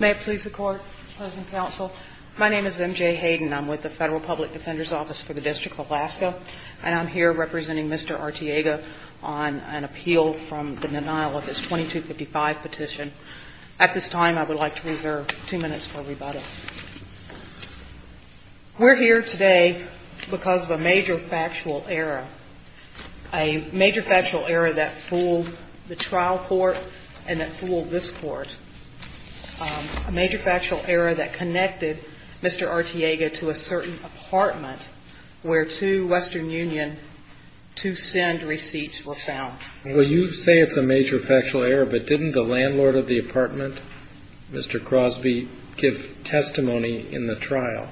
May it please the Court, President Counsel, my name is MJ Hayden. I'm with the Federal Public Defender's Office for the District of Alaska, and I'm here representing Mr. Arteaga on an appeal from the denial of his 2255 petition. At this time, I would like to reserve two minutes for rebuttal. We're here today because of a major factual error, a major factual error that fooled the trial court and that fooled this court, a major factual error that connected Mr. Arteaga to a certain apartment where two Western Union, two SIND receipts were found. Well, you say it's a major factual error, but didn't the landlord of the apartment, Mr. Crosby, give testimony in the trial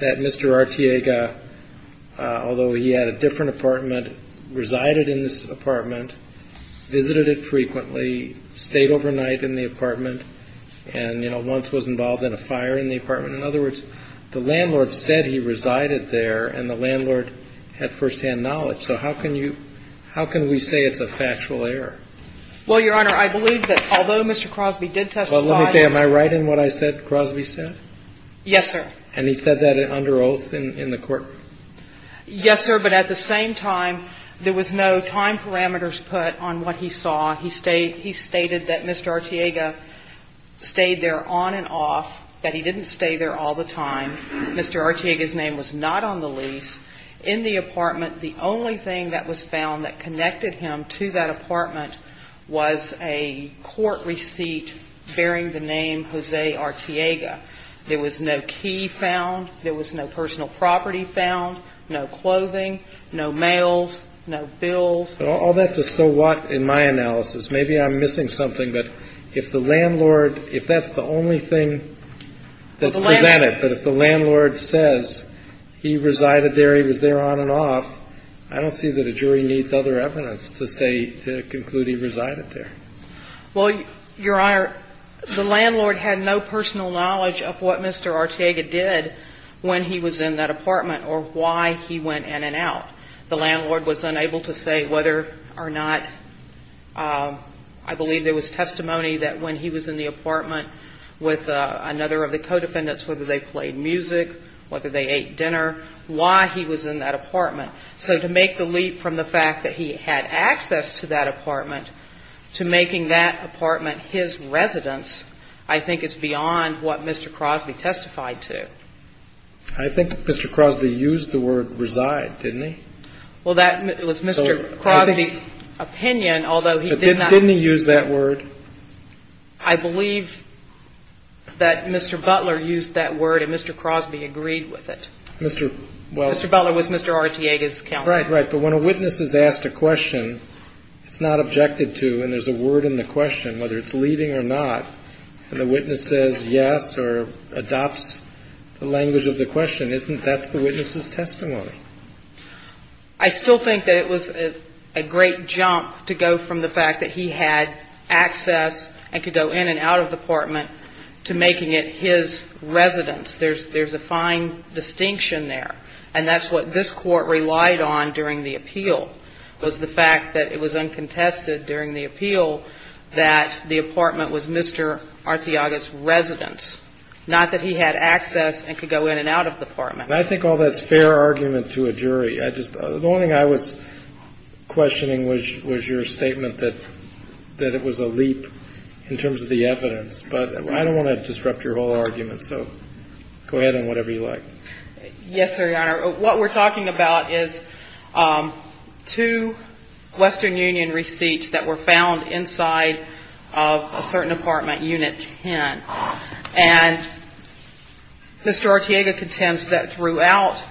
that Mr. Arteaga, although he had a different apartment, resided in this apartment, visited it frequently, stayed overnight in the apartment, and, you know, once was involved in a fire in the apartment? In other words, the landlord said he resided there, and the landlord had firsthand knowledge. So how can you – how can we say it's a factual error? Well, Your Honor, I believe that although Mr. Crosby did testify – Well, let me say, am I right in what I said Crosby said? Yes, sir. And he said that under oath in the court? Yes, sir. But at the same time, there was no time parameters put on what he saw. He stated that Mr. Arteaga stayed there on and off, that he didn't stay there all the time. Mr. Arteaga's name was not on the lease. In the apartment, the only thing that was found that connected him to that apartment was a court receipt bearing the name Jose Arteaga. There was no key found. There was no personal property found, no clothing, no mails, no bills. All that's a so what in my analysis. Maybe I'm missing something, but if the landlord – if that's the only thing that's presented, but if the landlord says he resided there, and the jury was there on and off, I don't see that a jury needs other evidence to say – to conclude he resided there. Well, Your Honor, the landlord had no personal knowledge of what Mr. Arteaga did when he was in that apartment or why he went in and out. The landlord was unable to say whether or not – I believe there was testimony that when he was in the apartment with another of the co-defendants, whether they played music, whether they ate dinner, why he was in that apartment. So to make the leap from the fact that he had access to that apartment to making that apartment his residence, I think it's beyond what Mr. Crosby testified to. I think Mr. Crosby used the word reside, didn't he? Well, that was Mr. Crosby's opinion, although he did not – But didn't he use that word? I believe that Mr. Butler used that word and Mr. Crosby agreed with it. Mr. – Mr. Butler was Mr. Arteaga's counselor. Right, right. But when a witness is asked a question, it's not objected to and there's a word in the question, whether it's leading or not, and the witness says yes or adopts the language of the question, isn't that the witness's testimony? I still think that it was a great jump to go from the fact that he had access and could go in and out of the apartment to making it his residence. There's a fine distinction there. And that's what this Court relied on during the appeal, was the fact that it was uncontested during the appeal that the apartment was Mr. Arteaga's residence, not that he had access and could go in and out of the apartment. I think all that's fair argument to a jury. The only thing I was questioning was your statement that it was a leap in terms of the evidence, but I don't want to disrupt your whole argument, so go ahead in whatever you like. Yes, Your Honor. What we're talking about is two Western Union receipts that were found inside of a certain apartment, Unit 10. And Mr. Arteaga contends that throughout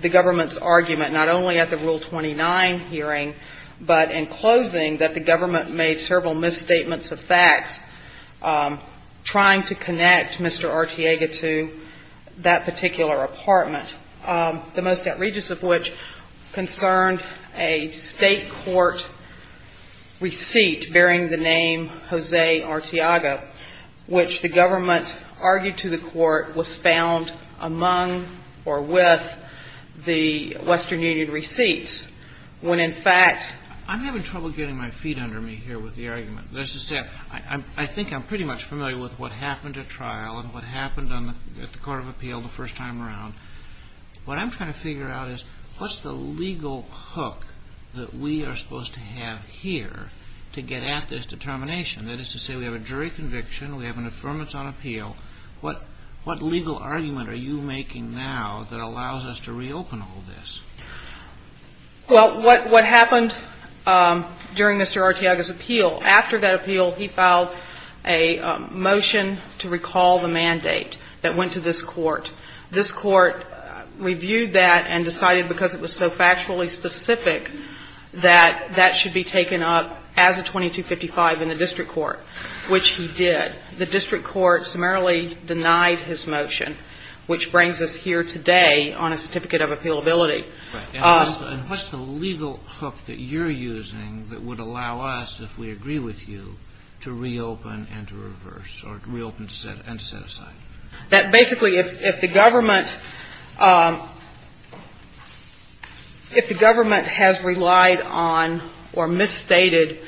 the government's argument, not only at the Rule 29 hearing, but in closing, that the government made several misstatements of facts trying to connect Mr. Arteaga to that particular apartment, the most outrageous of which concerned a state court receipt bearing the name Jose Arteaga, which the government argued to the court was found among or with the Western Union receipts, when in fact ---- I'm having trouble getting my feet under me here with the argument. I think I'm pretty much familiar with what happened at trial and what happened at the court of appeal the first time around. What I'm trying to figure out is what's the legal hook that we are supposed to have here to get at this determination? That is to say we have a jury conviction, we have an affirmation on appeal. What legal argument are you making now that allows us to reopen all this? Well, what happened during Mr. Arteaga's appeal, after that appeal he filed a motion to recall the mandate that went to this court. This court reviewed that and decided because it was so factually specific that that should be taken up as a 2255 in the district court, which he did. The district court summarily denied his motion, which brings us here today on a certificate of appealability. And what's the legal hook that you're using that would allow us, if we agree with you, to reopen and to reverse or reopen and to set aside? Basically, if the government has relied on or misstated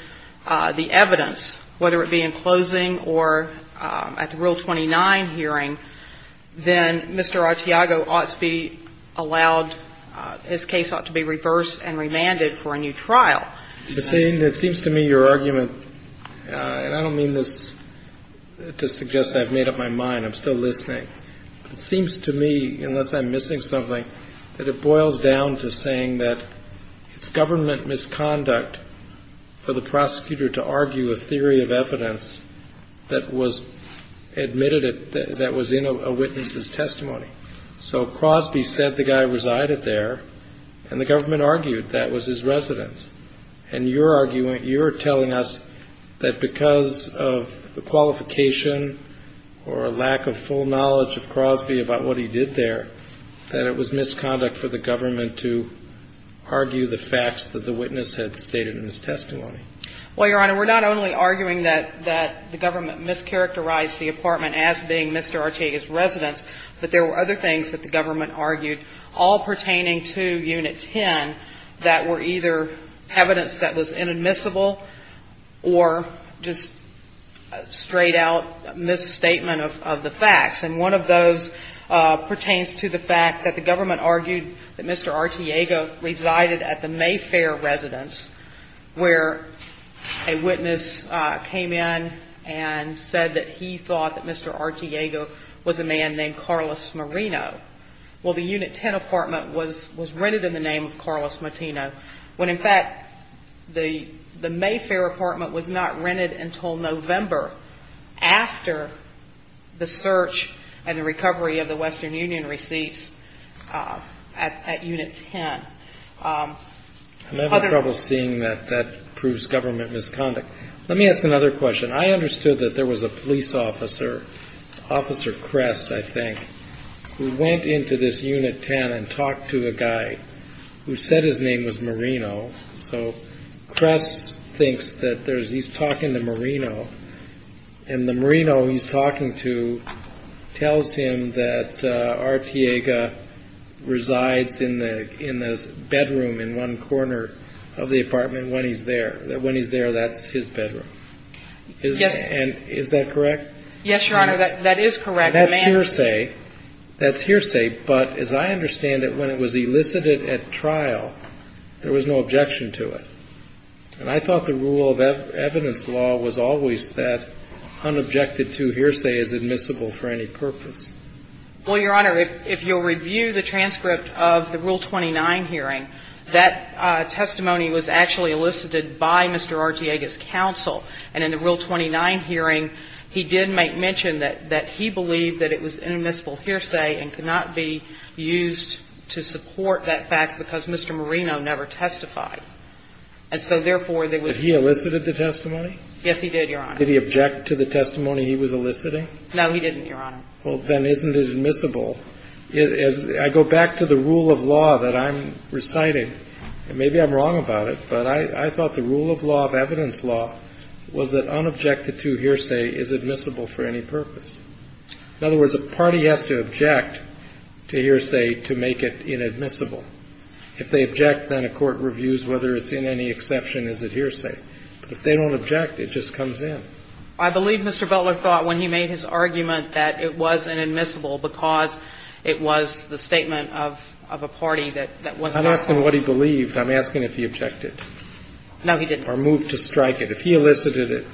the evidence, whether it be in closing or at the Rule 29 hearing, then Mr. Arteaga ought to be allowed, his case ought to be reversed and remanded for a new trial. It seems to me your argument, and I don't mean this to suggest I've made up my mind. I'm still listening. It seems to me, unless I'm missing something, that it boils down to saying that it's government misconduct for the prosecutor to argue a theory of evidence that was admitted, that was in a witness's testimony. So Crosby said the guy resided there, and the government argued that was his residence. And your argument, you're telling us that because of the qualification or lack of full knowledge of Crosby about what he did there, that it was misconduct for the government to argue the facts that the witness had stated in his testimony? Well, Your Honor, we're not only arguing that the government mischaracterized the apartment as being Mr. Arteaga's residence, but there were other things that the government argued all pertaining to Unit 10 that were either evidence that was inadmissible or just a straight-out misstatement of the facts. And one of those pertains to the fact that the government argued that Mr. Arteaga resided at the Mayfair residence where a witness came in and said that he thought that Mr. Arteaga was a man named Carlos Marino. Well, the Unit 10 apartment was rented in the name of Carlos Martino when, in fact, the Mayfair apartment was not rented until November after the search and the recovery of the Western Union receipts at Unit 10. I'm having trouble seeing that that proves government misconduct. Let me ask another question. I understood that there was a police officer, Officer Kress, I think, who went into this Unit 10 and talked to a guy who said his name was Marino. So Kress thinks that he's talking to Marino, and the Marino he's talking to tells him that Arteaga resides in this bedroom in one corner of the apartment when he's there. When he's there, that's his bedroom. And is that correct? Yes, Your Honor, that is correct. That's hearsay. That's hearsay. But as I understand it, when it was elicited at trial, there was no objection to it. And I thought the rule of evidence law was always that unobjected to hearsay is admissible for any purpose. Well, Your Honor, if you'll review the transcript of the Rule 29 hearing, that testimony was actually elicited by Mr. Arteaga's counsel. And in the Rule 29 hearing, he did make mention that he believed that it was an admissible hearsay to be used to support that fact because Mr. Marino never testified. And so, therefore, there was no objection to it. But he elicited the testimony? Yes, he did, Your Honor. Did he object to the testimony he was eliciting? No, he didn't, Your Honor. Well, then isn't it admissible? As I go back to the rule of law that I'm reciting, and maybe I'm wrong about it, but I thought the rule of law, of evidence law, was that unobjected to hearsay is admissible for any purpose. In other words, a party has to object to hearsay to make it inadmissible. If they object, then a court reviews whether it's in any exception as a hearsay. But if they don't object, it just comes in. I believe Mr. Butler thought when he made his argument that it was inadmissible because it was the statement of a party that wasn't up for it. I'm asking what he believed. I'm asking if he objected. No, he didn't. Or moved to strike it. If he elicited it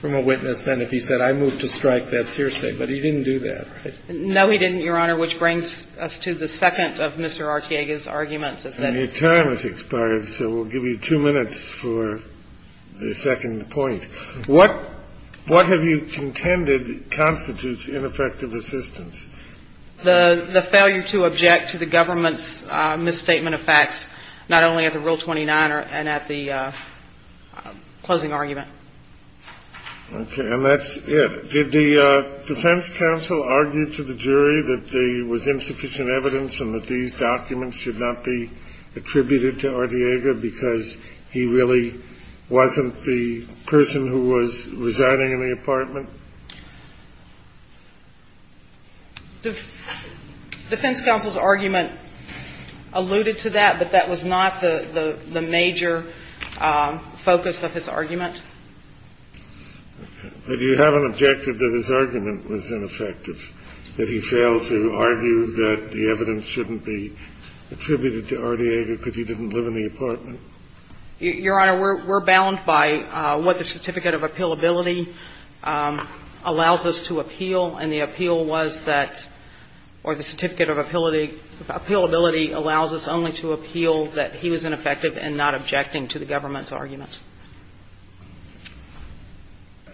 from a witness, then if he said, I moved to strike that hearsay. But he didn't do that, right? No, he didn't, Your Honor. Which brings us to the second of Mr. Archiega's arguments. Your time has expired, so we'll give you two minutes for the second point. What have you contended constitutes ineffective assistance? The failure to object to the government's misstatement of facts, not only at the Rule of Law, but also at the defense counsel's argument. Okay. And that's it. Did the defense counsel argue to the jury that there was insufficient evidence and that these documents should not be attributed to Archiega because he really wasn't the person who was residing in the apartment? The defense counsel's argument alluded to that, but that was not the major focus of his argument. Okay. But do you have an objective that his argument was ineffective, that he failed to argue that the evidence shouldn't be attributed to Archiega because he didn't live in the apartment? Your Honor, we're bound by what the Certificate of Appealability allows us to appeal, and the appeal was that or the Certificate of Appealability allows us only to appeal that he was ineffective and not objecting to the government's arguments.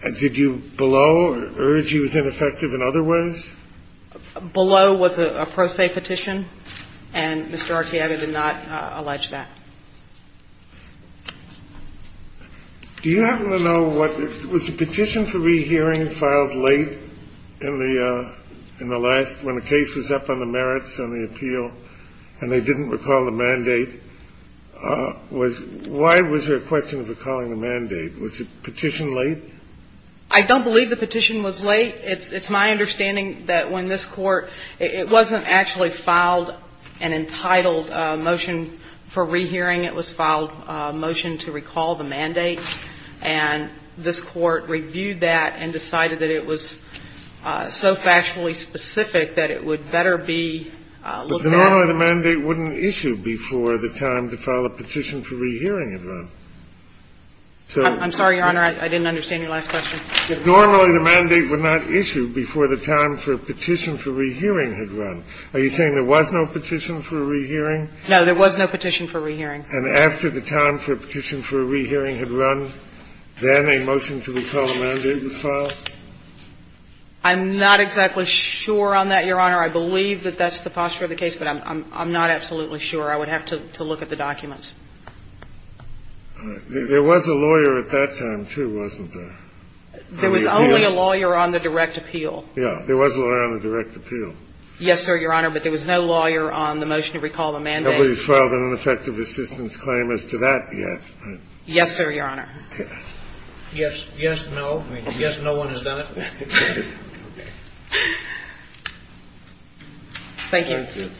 And did you below or urge he was ineffective in other ways? Below was a pro se petition, and Mr. Archiega did not allege that. Do you happen to know what the – was the petition for rehearing filed late in the last – when the case was up on the merits, on the appeal, and they didn't recall the mandate? Was – why was there a question of recalling the mandate? Was the petition late? I don't believe the petition was late. It's my understanding that when this Court – it wasn't actually filed an entitled motion for rehearing. It was filed a motion to recall the mandate. And this Court reviewed that and decided that it was so factually specific that it would better be looked at. But normally the mandate wouldn't issue before the time to file a petition for rehearing had run. I'm sorry, Your Honor. I didn't understand your last question. had run. Are you saying there was no petition for rehearing? No, there was no petition for rehearing. And after the time for a petition for rehearing had run, then a motion to recall the mandate was filed? I'm not exactly sure on that, Your Honor. I believe that that's the posture of the case, but I'm not absolutely sure. I would have to look at the documents. There was a lawyer at that time, too, wasn't there? There was only a lawyer on the direct appeal. There was a lawyer on the direct appeal. Yes, sir, Your Honor. But there was no lawyer on the motion to recall the mandate. Nobody filed an ineffective assistance claim as to that yet. Yes, sir, Your Honor. Yes. Yes. No. Yes. No one has done it. Thank you. Thank you.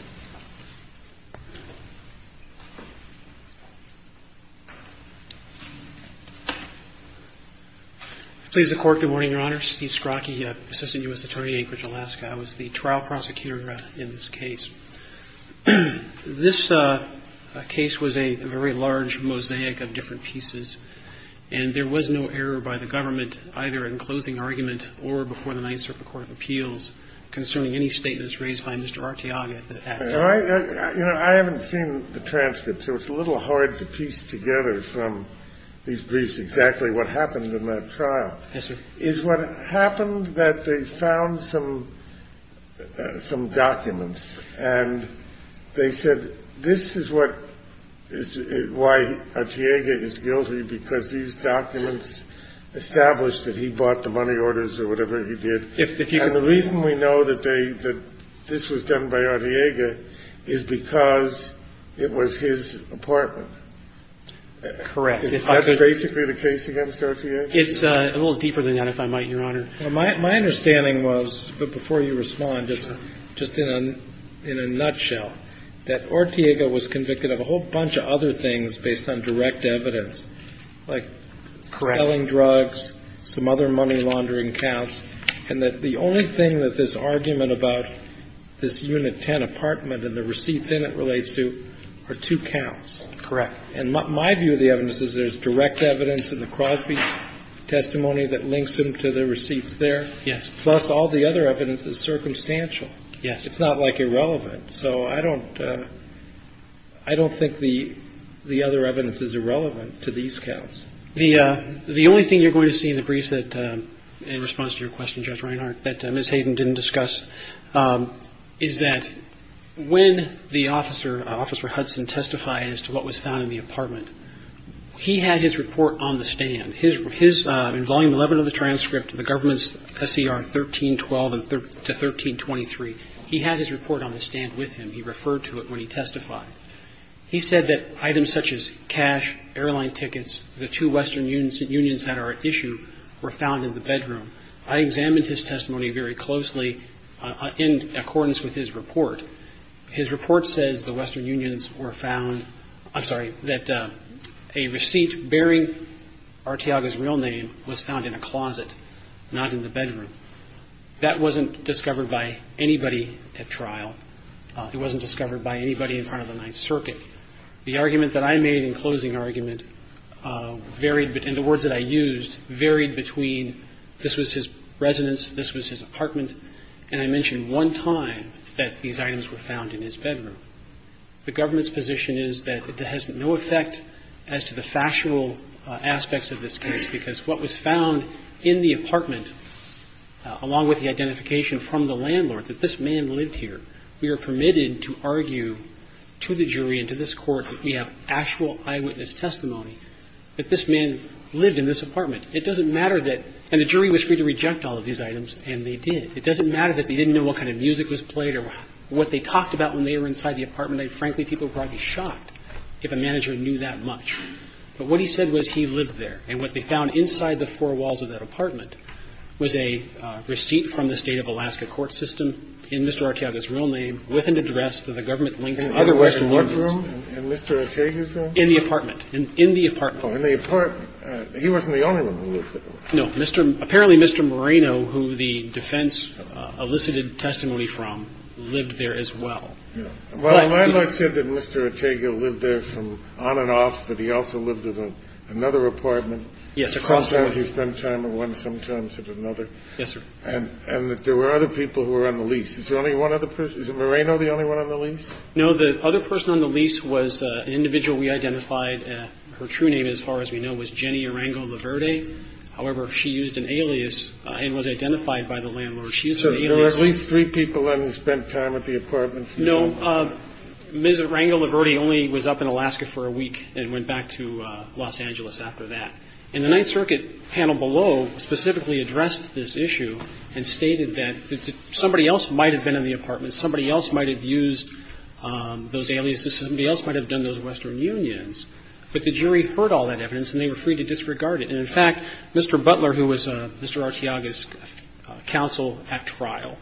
Please, the Court. Good morning, Your Honor. Steve Scrocchi, Assistant U.S. Attorney, Anchorage, Alaska. I was the trial prosecutor in this case. This case was a very large mosaic of different pieces. And there was no error by the government either in closing argument or before the Ninth Circuit Court of Appeals concerning any statements raised by Mr. Arteaga that acted. I haven't seen the transcript, so it's a little hard to piece together from these briefs exactly what happened in that trial. Yes, sir. What happened is what happened that they found some documents and they said this is what is why Arteaga is guilty because these documents established that he bought the money orders or whatever he did. And the reason we know that this was done by Arteaga is because it was his apartment. Correct. Is that basically the case against Arteaga? It's a little deeper than that, if I might, Your Honor. My understanding was, but before you respond, just in a nutshell, that Arteaga was convicted of a whole bunch of other things based on direct evidence, like selling drugs, some other money laundering counts, and that the only thing that this argument about this Unit 10 apartment and the receipts in it relates to are two counts. Correct. And my view of the evidence is there's direct evidence in the Crosby testimony that links him to the receipts there. Yes. Plus all the other evidence is circumstantial. Yes. It's not, like, irrelevant. So I don't think the other evidence is irrelevant to these counts. The only thing you're going to see in the briefs that, in response to your question, Judge Reinhart, that Ms. Hayden didn't discuss is that when the officer, Officer Reinhart, was in the apartment, he had his report on the stand. His – in Volume 11 of the transcript, the government's S.E.R. 1312 to 1323, he had his report on the stand with him. He referred to it when he testified. He said that items such as cash, airline tickets, the two Western Unions that are at issue were found in the bedroom. I examined his testimony very closely in accordance with his report. His report says the Western Unions were found – I'm sorry – that a receipt bearing Arteaga's real name was found in a closet, not in the bedroom. That wasn't discovered by anybody at trial. It wasn't discovered by anybody in front of the Ninth Circuit. The argument that I made in closing argument varied – and the words that I used varied between this was his residence, this was his apartment, and I mentioned one time that these items were found in his bedroom. The government's position is that it has no effect as to the factual aspects of this case, because what was found in the apartment, along with the identification from the landlord, that this man lived here, we are permitted to argue to the jury and to this court, we have actual eyewitness testimony, that this man lived in this apartment. It doesn't matter that – and the jury was free to reject all of these items, and they did. It doesn't matter that they didn't know what kind of music was played or what they talked about when they were inside the apartment. Frankly, people would probably be shocked if a manager knew that much. But what he said was he lived there, and what they found inside the four walls of that apartment was a receipt from the State of Alaska court system in Mr. Arteaga's real name with an address that the government linked to other Western Unions. In Mr. Arteaga's room? In the apartment. In the apartment. Oh, in the apartment. He wasn't the only one who lived there. No. Apparently Mr. Moreno, who the defense elicited testimony from, lived there as well. Well, my law said that Mr. Arteaga lived there from on and off, that he also lived in another apartment. Yes. Sometimes he spent time at one, sometimes at another. Yes, sir. And that there were other people who were on the lease. Is there only one other person? Is Moreno the only one on the lease? No. The other person on the lease was an individual we identified. Her true name, as far as we know, was Jenny Arango Laverde. However, she used an alias and was identified by the landlord. She used an alias. So there were at least three people in who spent time at the apartment? No. Ms. Arango Laverde only was up in Alaska for a week and went back to Los Angeles after that. And the Ninth Circuit panel below specifically addressed this issue and stated that somebody else might have been in the apartment. Somebody else might have used those aliases. Somebody else might have done those Western Unions. But the jury heard all that evidence and they were free to disregard it. And, in fact, Mr. Butler, who was Mr. Arteaga's counsel at trial,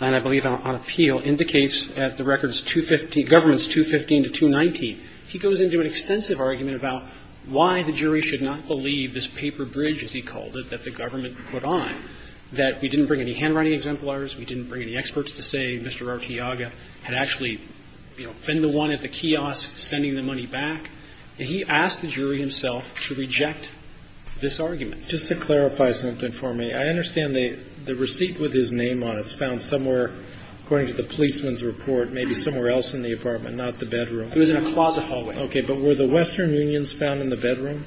and I believe on appeal, indicates at the records 215 – government's 215 to 219, he goes into an extensive argument about why the jury should not believe this paper bridge, as he called it, that the government put on, that we didn't bring any handwriting exemplars, we didn't bring any experts to say Mr. Arteaga had actually, you know, been the one at the kiosk sending the money back. And he asked the jury himself to reject this argument. Just to clarify something for me, I understand the receipt with his name on it's found somewhere, according to the policeman's report, maybe somewhere else in the apartment, not the bedroom. It was in a closet hallway. Okay. But were the Western Unions found in the bedroom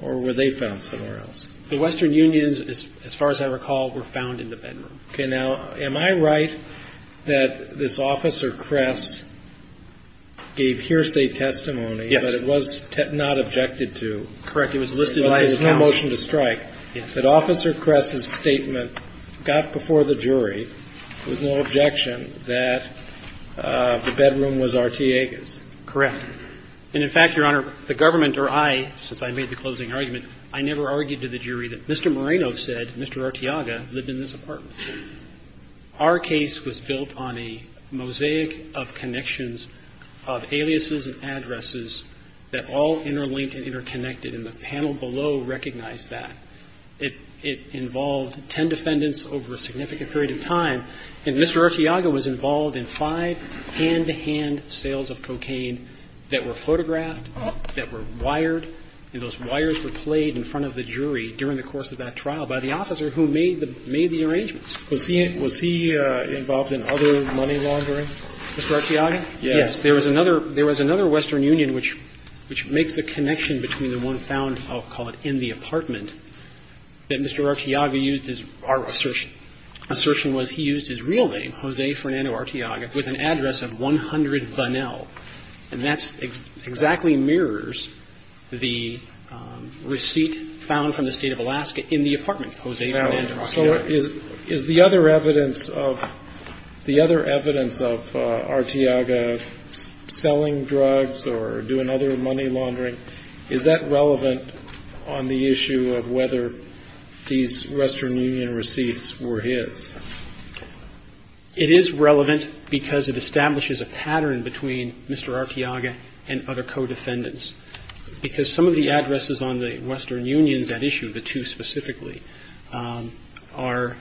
or were they found somewhere else? The Western Unions, as far as I recall, were found in the bedroom. Okay. Now, am I right that this Officer Kress gave hearsay testimony that it was not objected to? Correct. It was listed by his counsel. It was a no motion to strike. Yes. But Officer Kress's statement got before the jury with no objection that the bedroom was Arteaga's. Correct. And, in fact, Your Honor, the government or I, since I made the closing argument, I never argued to the jury that Mr. Moreno said Mr. Arteaga lived in this apartment. Our case was built on a mosaic of connections of aliases and addresses that all interlinked and interconnected. And the panel below recognized that. It involved ten defendants over a significant period of time. And Mr. Arteaga was involved in five hand-to-hand sales of cocaine that were photographed, that were wired, and those wires were played in front of the jury during the course of that trial by the officer who made the arrangements. Was he involved in other money laundering, Mr. Arteaga? Yes. There was another Western Union which makes the connection between the one found, I'll call it, in the apartment that Mr. Arteaga used as our assertion. Our assertion was he used his real name, Jose Fernando Arteaga, with an address of 100 Bunnell. And that exactly mirrors the receipt found from the State of Alaska in the apartment, Jose Fernando Arteaga. Now, so is the other evidence of Arteaga selling drugs or doing other money laundering, is that relevant on the issue of whether these Western Union receipts were his? It is relevant because it establishes a pattern between Mr. Arteaga and other co-defendants. Because some of the addresses on the Western Unions that issue, the two specifically, are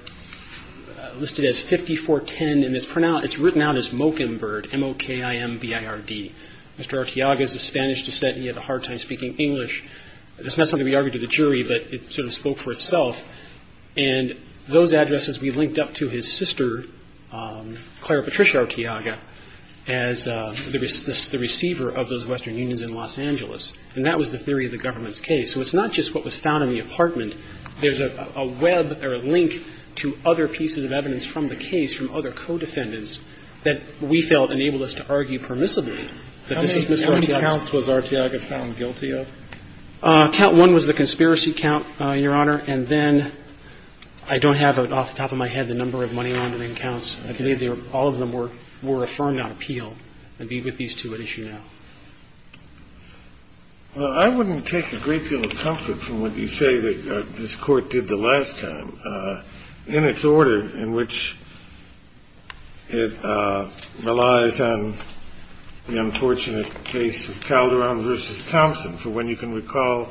listed as 5410 and it's written out as Mokenbird, M-O-K-I-N-B-I-R-D. Mr. Arteaga is of Spanish descent and he had a hard time speaking English. That's not something we argued to the jury, but it sort of spoke for itself. And those addresses we linked up to his sister, Clara Patricia Arteaga, as the receiver of those Western Unions in Los Angeles. And that was the theory of the government's case. So it's not just what was found in the apartment. There's a web or a link to other pieces of evidence from the case from other co-defendants that we felt enabled us to argue permissibly that this is Mr. Arteaga's. How many counts was Arteaga found guilty of? Count one was the conspiracy count, Your Honor. And then I don't have off the top of my head the number of money laundering counts. I believe all of them were affirmed on appeal. I'd be with these two at issue now. Well, I wouldn't take a great deal of comfort from what you say that this Court did the last time. In its order, in which it relies on the unfortunate case of Calderon v. Thompson, for when you can recall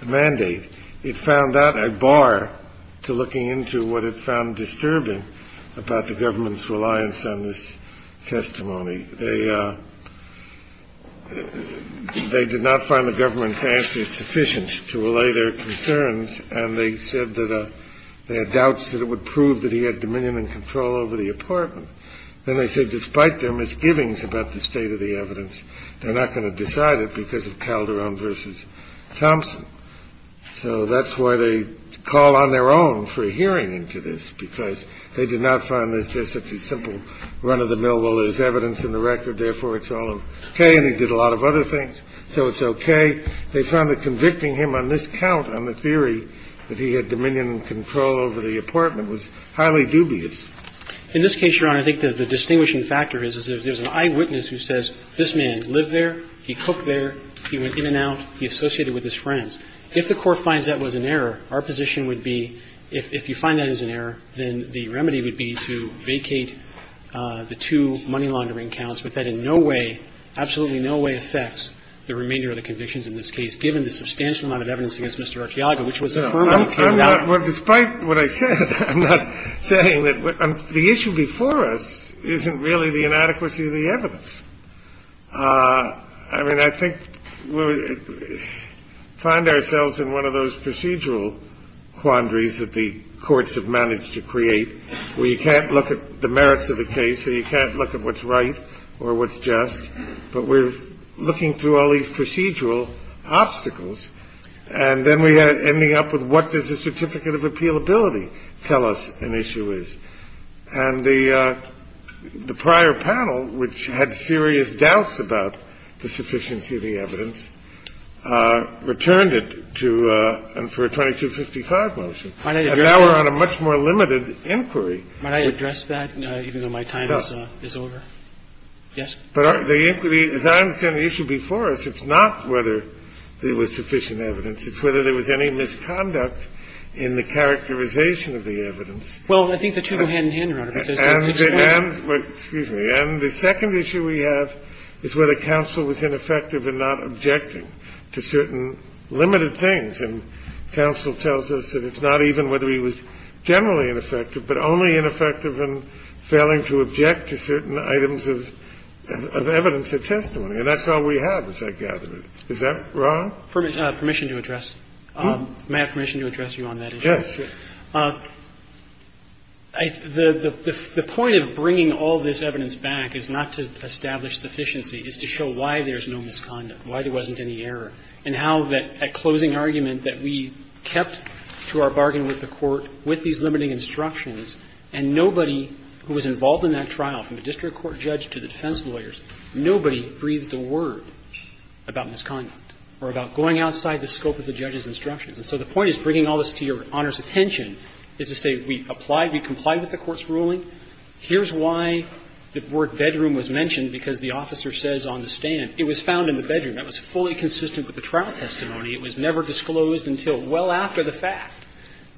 the mandate, it found that a bar to looking into what it found disturbing about the government's reliance on this testimony. They did not find the government's answer sufficient to relay their concerns, and they said that they had doubts that it would prove that he had dominion and control over the apartment. Then they said despite their misgivings about the state of the evidence, they're not going to decide it because of Calderon v. Thompson. So that's why they call on their own for a hearing into this, because they did not find there's just such a simple run-of-the-mill, well, there's evidence in the record, therefore it's all okay. And he did a lot of other things, so it's okay. They found that convicting him on this count, on the theory that he had dominion and control over the apartment, was highly dubious. In this case, Your Honor, I think the distinguishing factor is there's an eyewitness who says this man lived there, he cooked there, he went in and out, he associated with his friends. If the Court finds that was an error, our position would be if you find that is an error, then the remedy would be to vacate the two money laundering counts, but that in no way, absolutely no way affects the remainder of the convictions in this case, given the substantial amount of evidence against Mr. Archiaga, which was a firm opinion. But I'm not, despite what I said, I'm not saying that, the issue before us isn't really the inadequacy of the evidence. I mean, I think we find ourselves in one of those procedural quandaries that the courts have managed to create, where you can't look at the merits of the case, or you can't look at what's right or what's just, but we're looking through all these procedural obstacles, and then we end up with what does the certificate of appealability tell us an issue is. And the prior panel, which had serious doubts about the sufficiency of the evidence, returned it to, and for a 2255 motion. And now we're on a much more limited inquiry. Can I address that, even though my time is over? Yes. But the inquiry, as I understand the issue before us, it's not whether there was sufficient evidence. It's whether there was any misconduct in the characterization of the evidence. Well, I think the two go hand in hand, Your Honor. Excuse me. And the second issue we have is whether counsel was ineffective in not objecting to certain limited things. And counsel tells us that it's not even whether he was generally ineffective, but only ineffective in failing to object to certain items of evidence or testimony. And that's all we have, as I gather it. Is that wrong? Permission to address. May I have permission to address you on that issue? Yes. The point of bringing all this evidence back is not to establish sufficiency. It's to show why there's no misconduct, why there wasn't any error, and how that closing argument that we kept to our bargain with the Court with these limiting instructions, and nobody who was involved in that trial, from the district court judge to the defense lawyers, nobody breathed a word about misconduct or about going outside the scope of the judge's instructions. And so the point is, bringing all this to Your Honor's attention, is to say we applied to comply with the Court's ruling. Here's why the word bedroom was mentioned, because the officer says on the stand that it was found in the bedroom. That was fully consistent with the trial testimony. It was never disclosed until well after the fact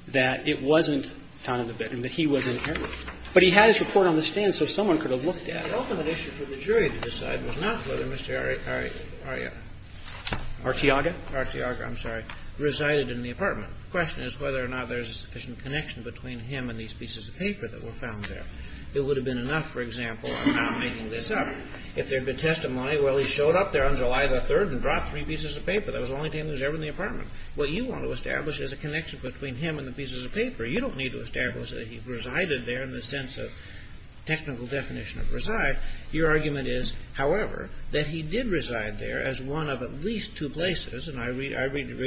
that it wasn't found in the bedroom, that he was in error. But he had his report on the stand so someone could have looked at it. The ultimate issue for the jury to decide was not whether Mr. Arteaga resided in the apartment. The question is whether or not there's a sufficient connection between him and these pieces of paper that were found there. It would have been enough, for example, I'm not making this up, if there had been a case where he showed up there on July the 3rd and dropped three pieces of paper. That was the only thing that was ever in the apartment. What you want to establish is a connection between him and the pieces of paper. You don't need to establish that he resided there in the sense of technical definition of reside. Your argument is, however, that he did reside there as one of at least two places. And I read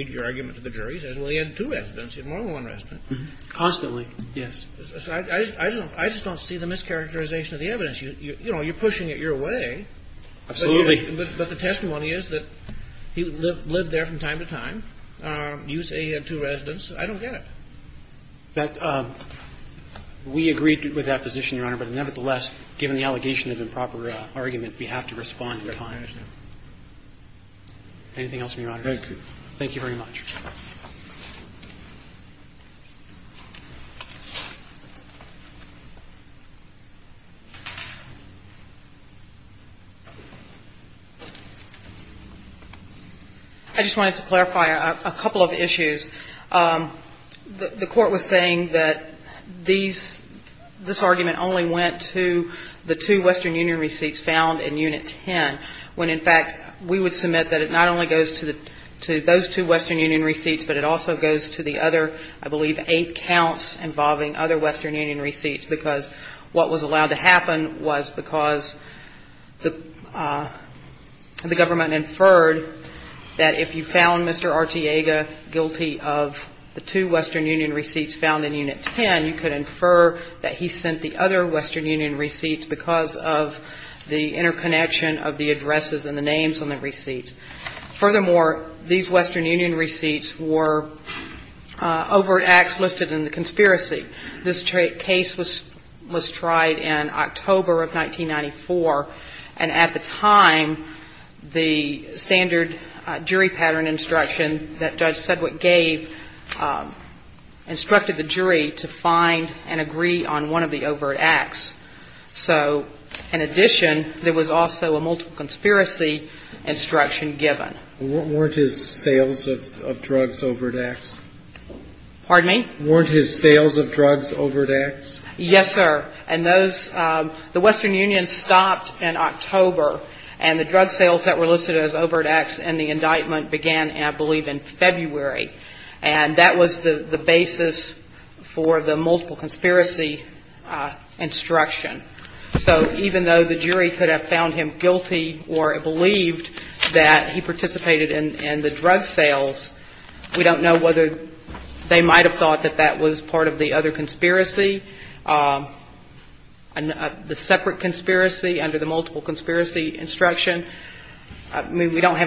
your argument to the jury. It says, well, he had two residences, more than one residence. Constantly. Yes. I just don't see the mischaracterization of the evidence. You're pushing it your way. Absolutely. But the testimony is that he lived there from time to time. You say he had two residences. I don't get it. We agreed with that position, Your Honor, but nevertheless, given the allegation of improper argument, we have to respond in time. I understand. Anything else, Your Honor? Thank you. Thank you very much. I just wanted to clarify a couple of issues. The Court was saying that these ‑‑ this argument only went to the two Western Union receipts found in Unit 10, when, in fact, we would submit that it not only goes to those two Western Union receipts, but it also goes to the other, I believe, eight counts involving other Western Union receipts. Because what was allowed to happen was because the government inferred that if you found Mr. Artiega guilty of the two Western Union receipts found in Unit 10, you could infer that he sent the other Western Union receipts because of the interconnection of the addresses and the names on the receipts. Furthermore, these Western Union receipts were overt acts listed in the conspiracy. This case was tried in October of 1994, and at the time, the standard jury pattern instruction that Judge Sedgwick gave instructed the jury to find and agree on one of the overt acts. So, in addition, there was also a multiple conspiracy instruction given. Weren't his sales of drugs overt acts? Pardon me? Weren't his sales of drugs overt acts? Yes, sir. And those ‑‑ the Western Union stopped in October, and the drug sales that were listed as overt acts in the indictment began, I believe, in February. And that was the basis for the multiple conspiracy instruction. So even though the jury could have found him guilty or believed that he participated in the drug sales, we don't know whether they might have thought that that was part of the other conspiracy, the separate conspiracy under the multiple conspiracy instruction. And I think that's a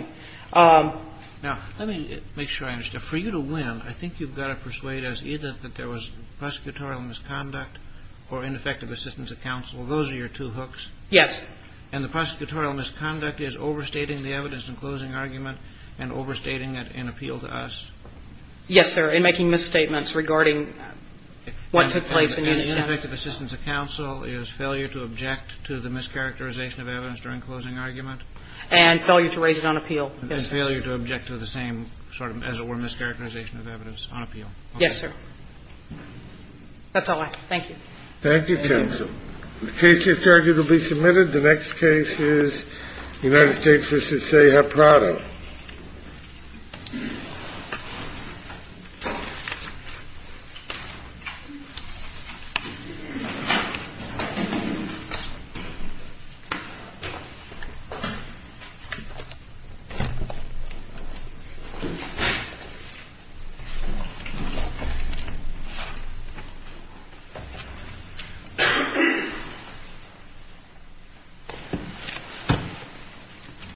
good point. Now, let me make sure I understand. For you to win, I think you've got to persuade us either that there was prosecutorial misconduct or ineffective assistance of counsel. Those are your two hooks. Yes. And the prosecutorial misconduct is overstating the evidence in closing argument and overstating it in appeal to us? Yes, sir, in making misstatements regarding what took place in Unit 10. And ineffective assistance of counsel is failure to object to the mischaracterization of evidence during closing argument? And failure to raise it on appeal. And failure to object to the same sort of, as it were, mischaracterization of evidence on appeal. Yes, sir. That's all I have. Thank you. Thank you, counsel. The case is arguably submitted. The next case is United States v. Ceja Prado. Thank you.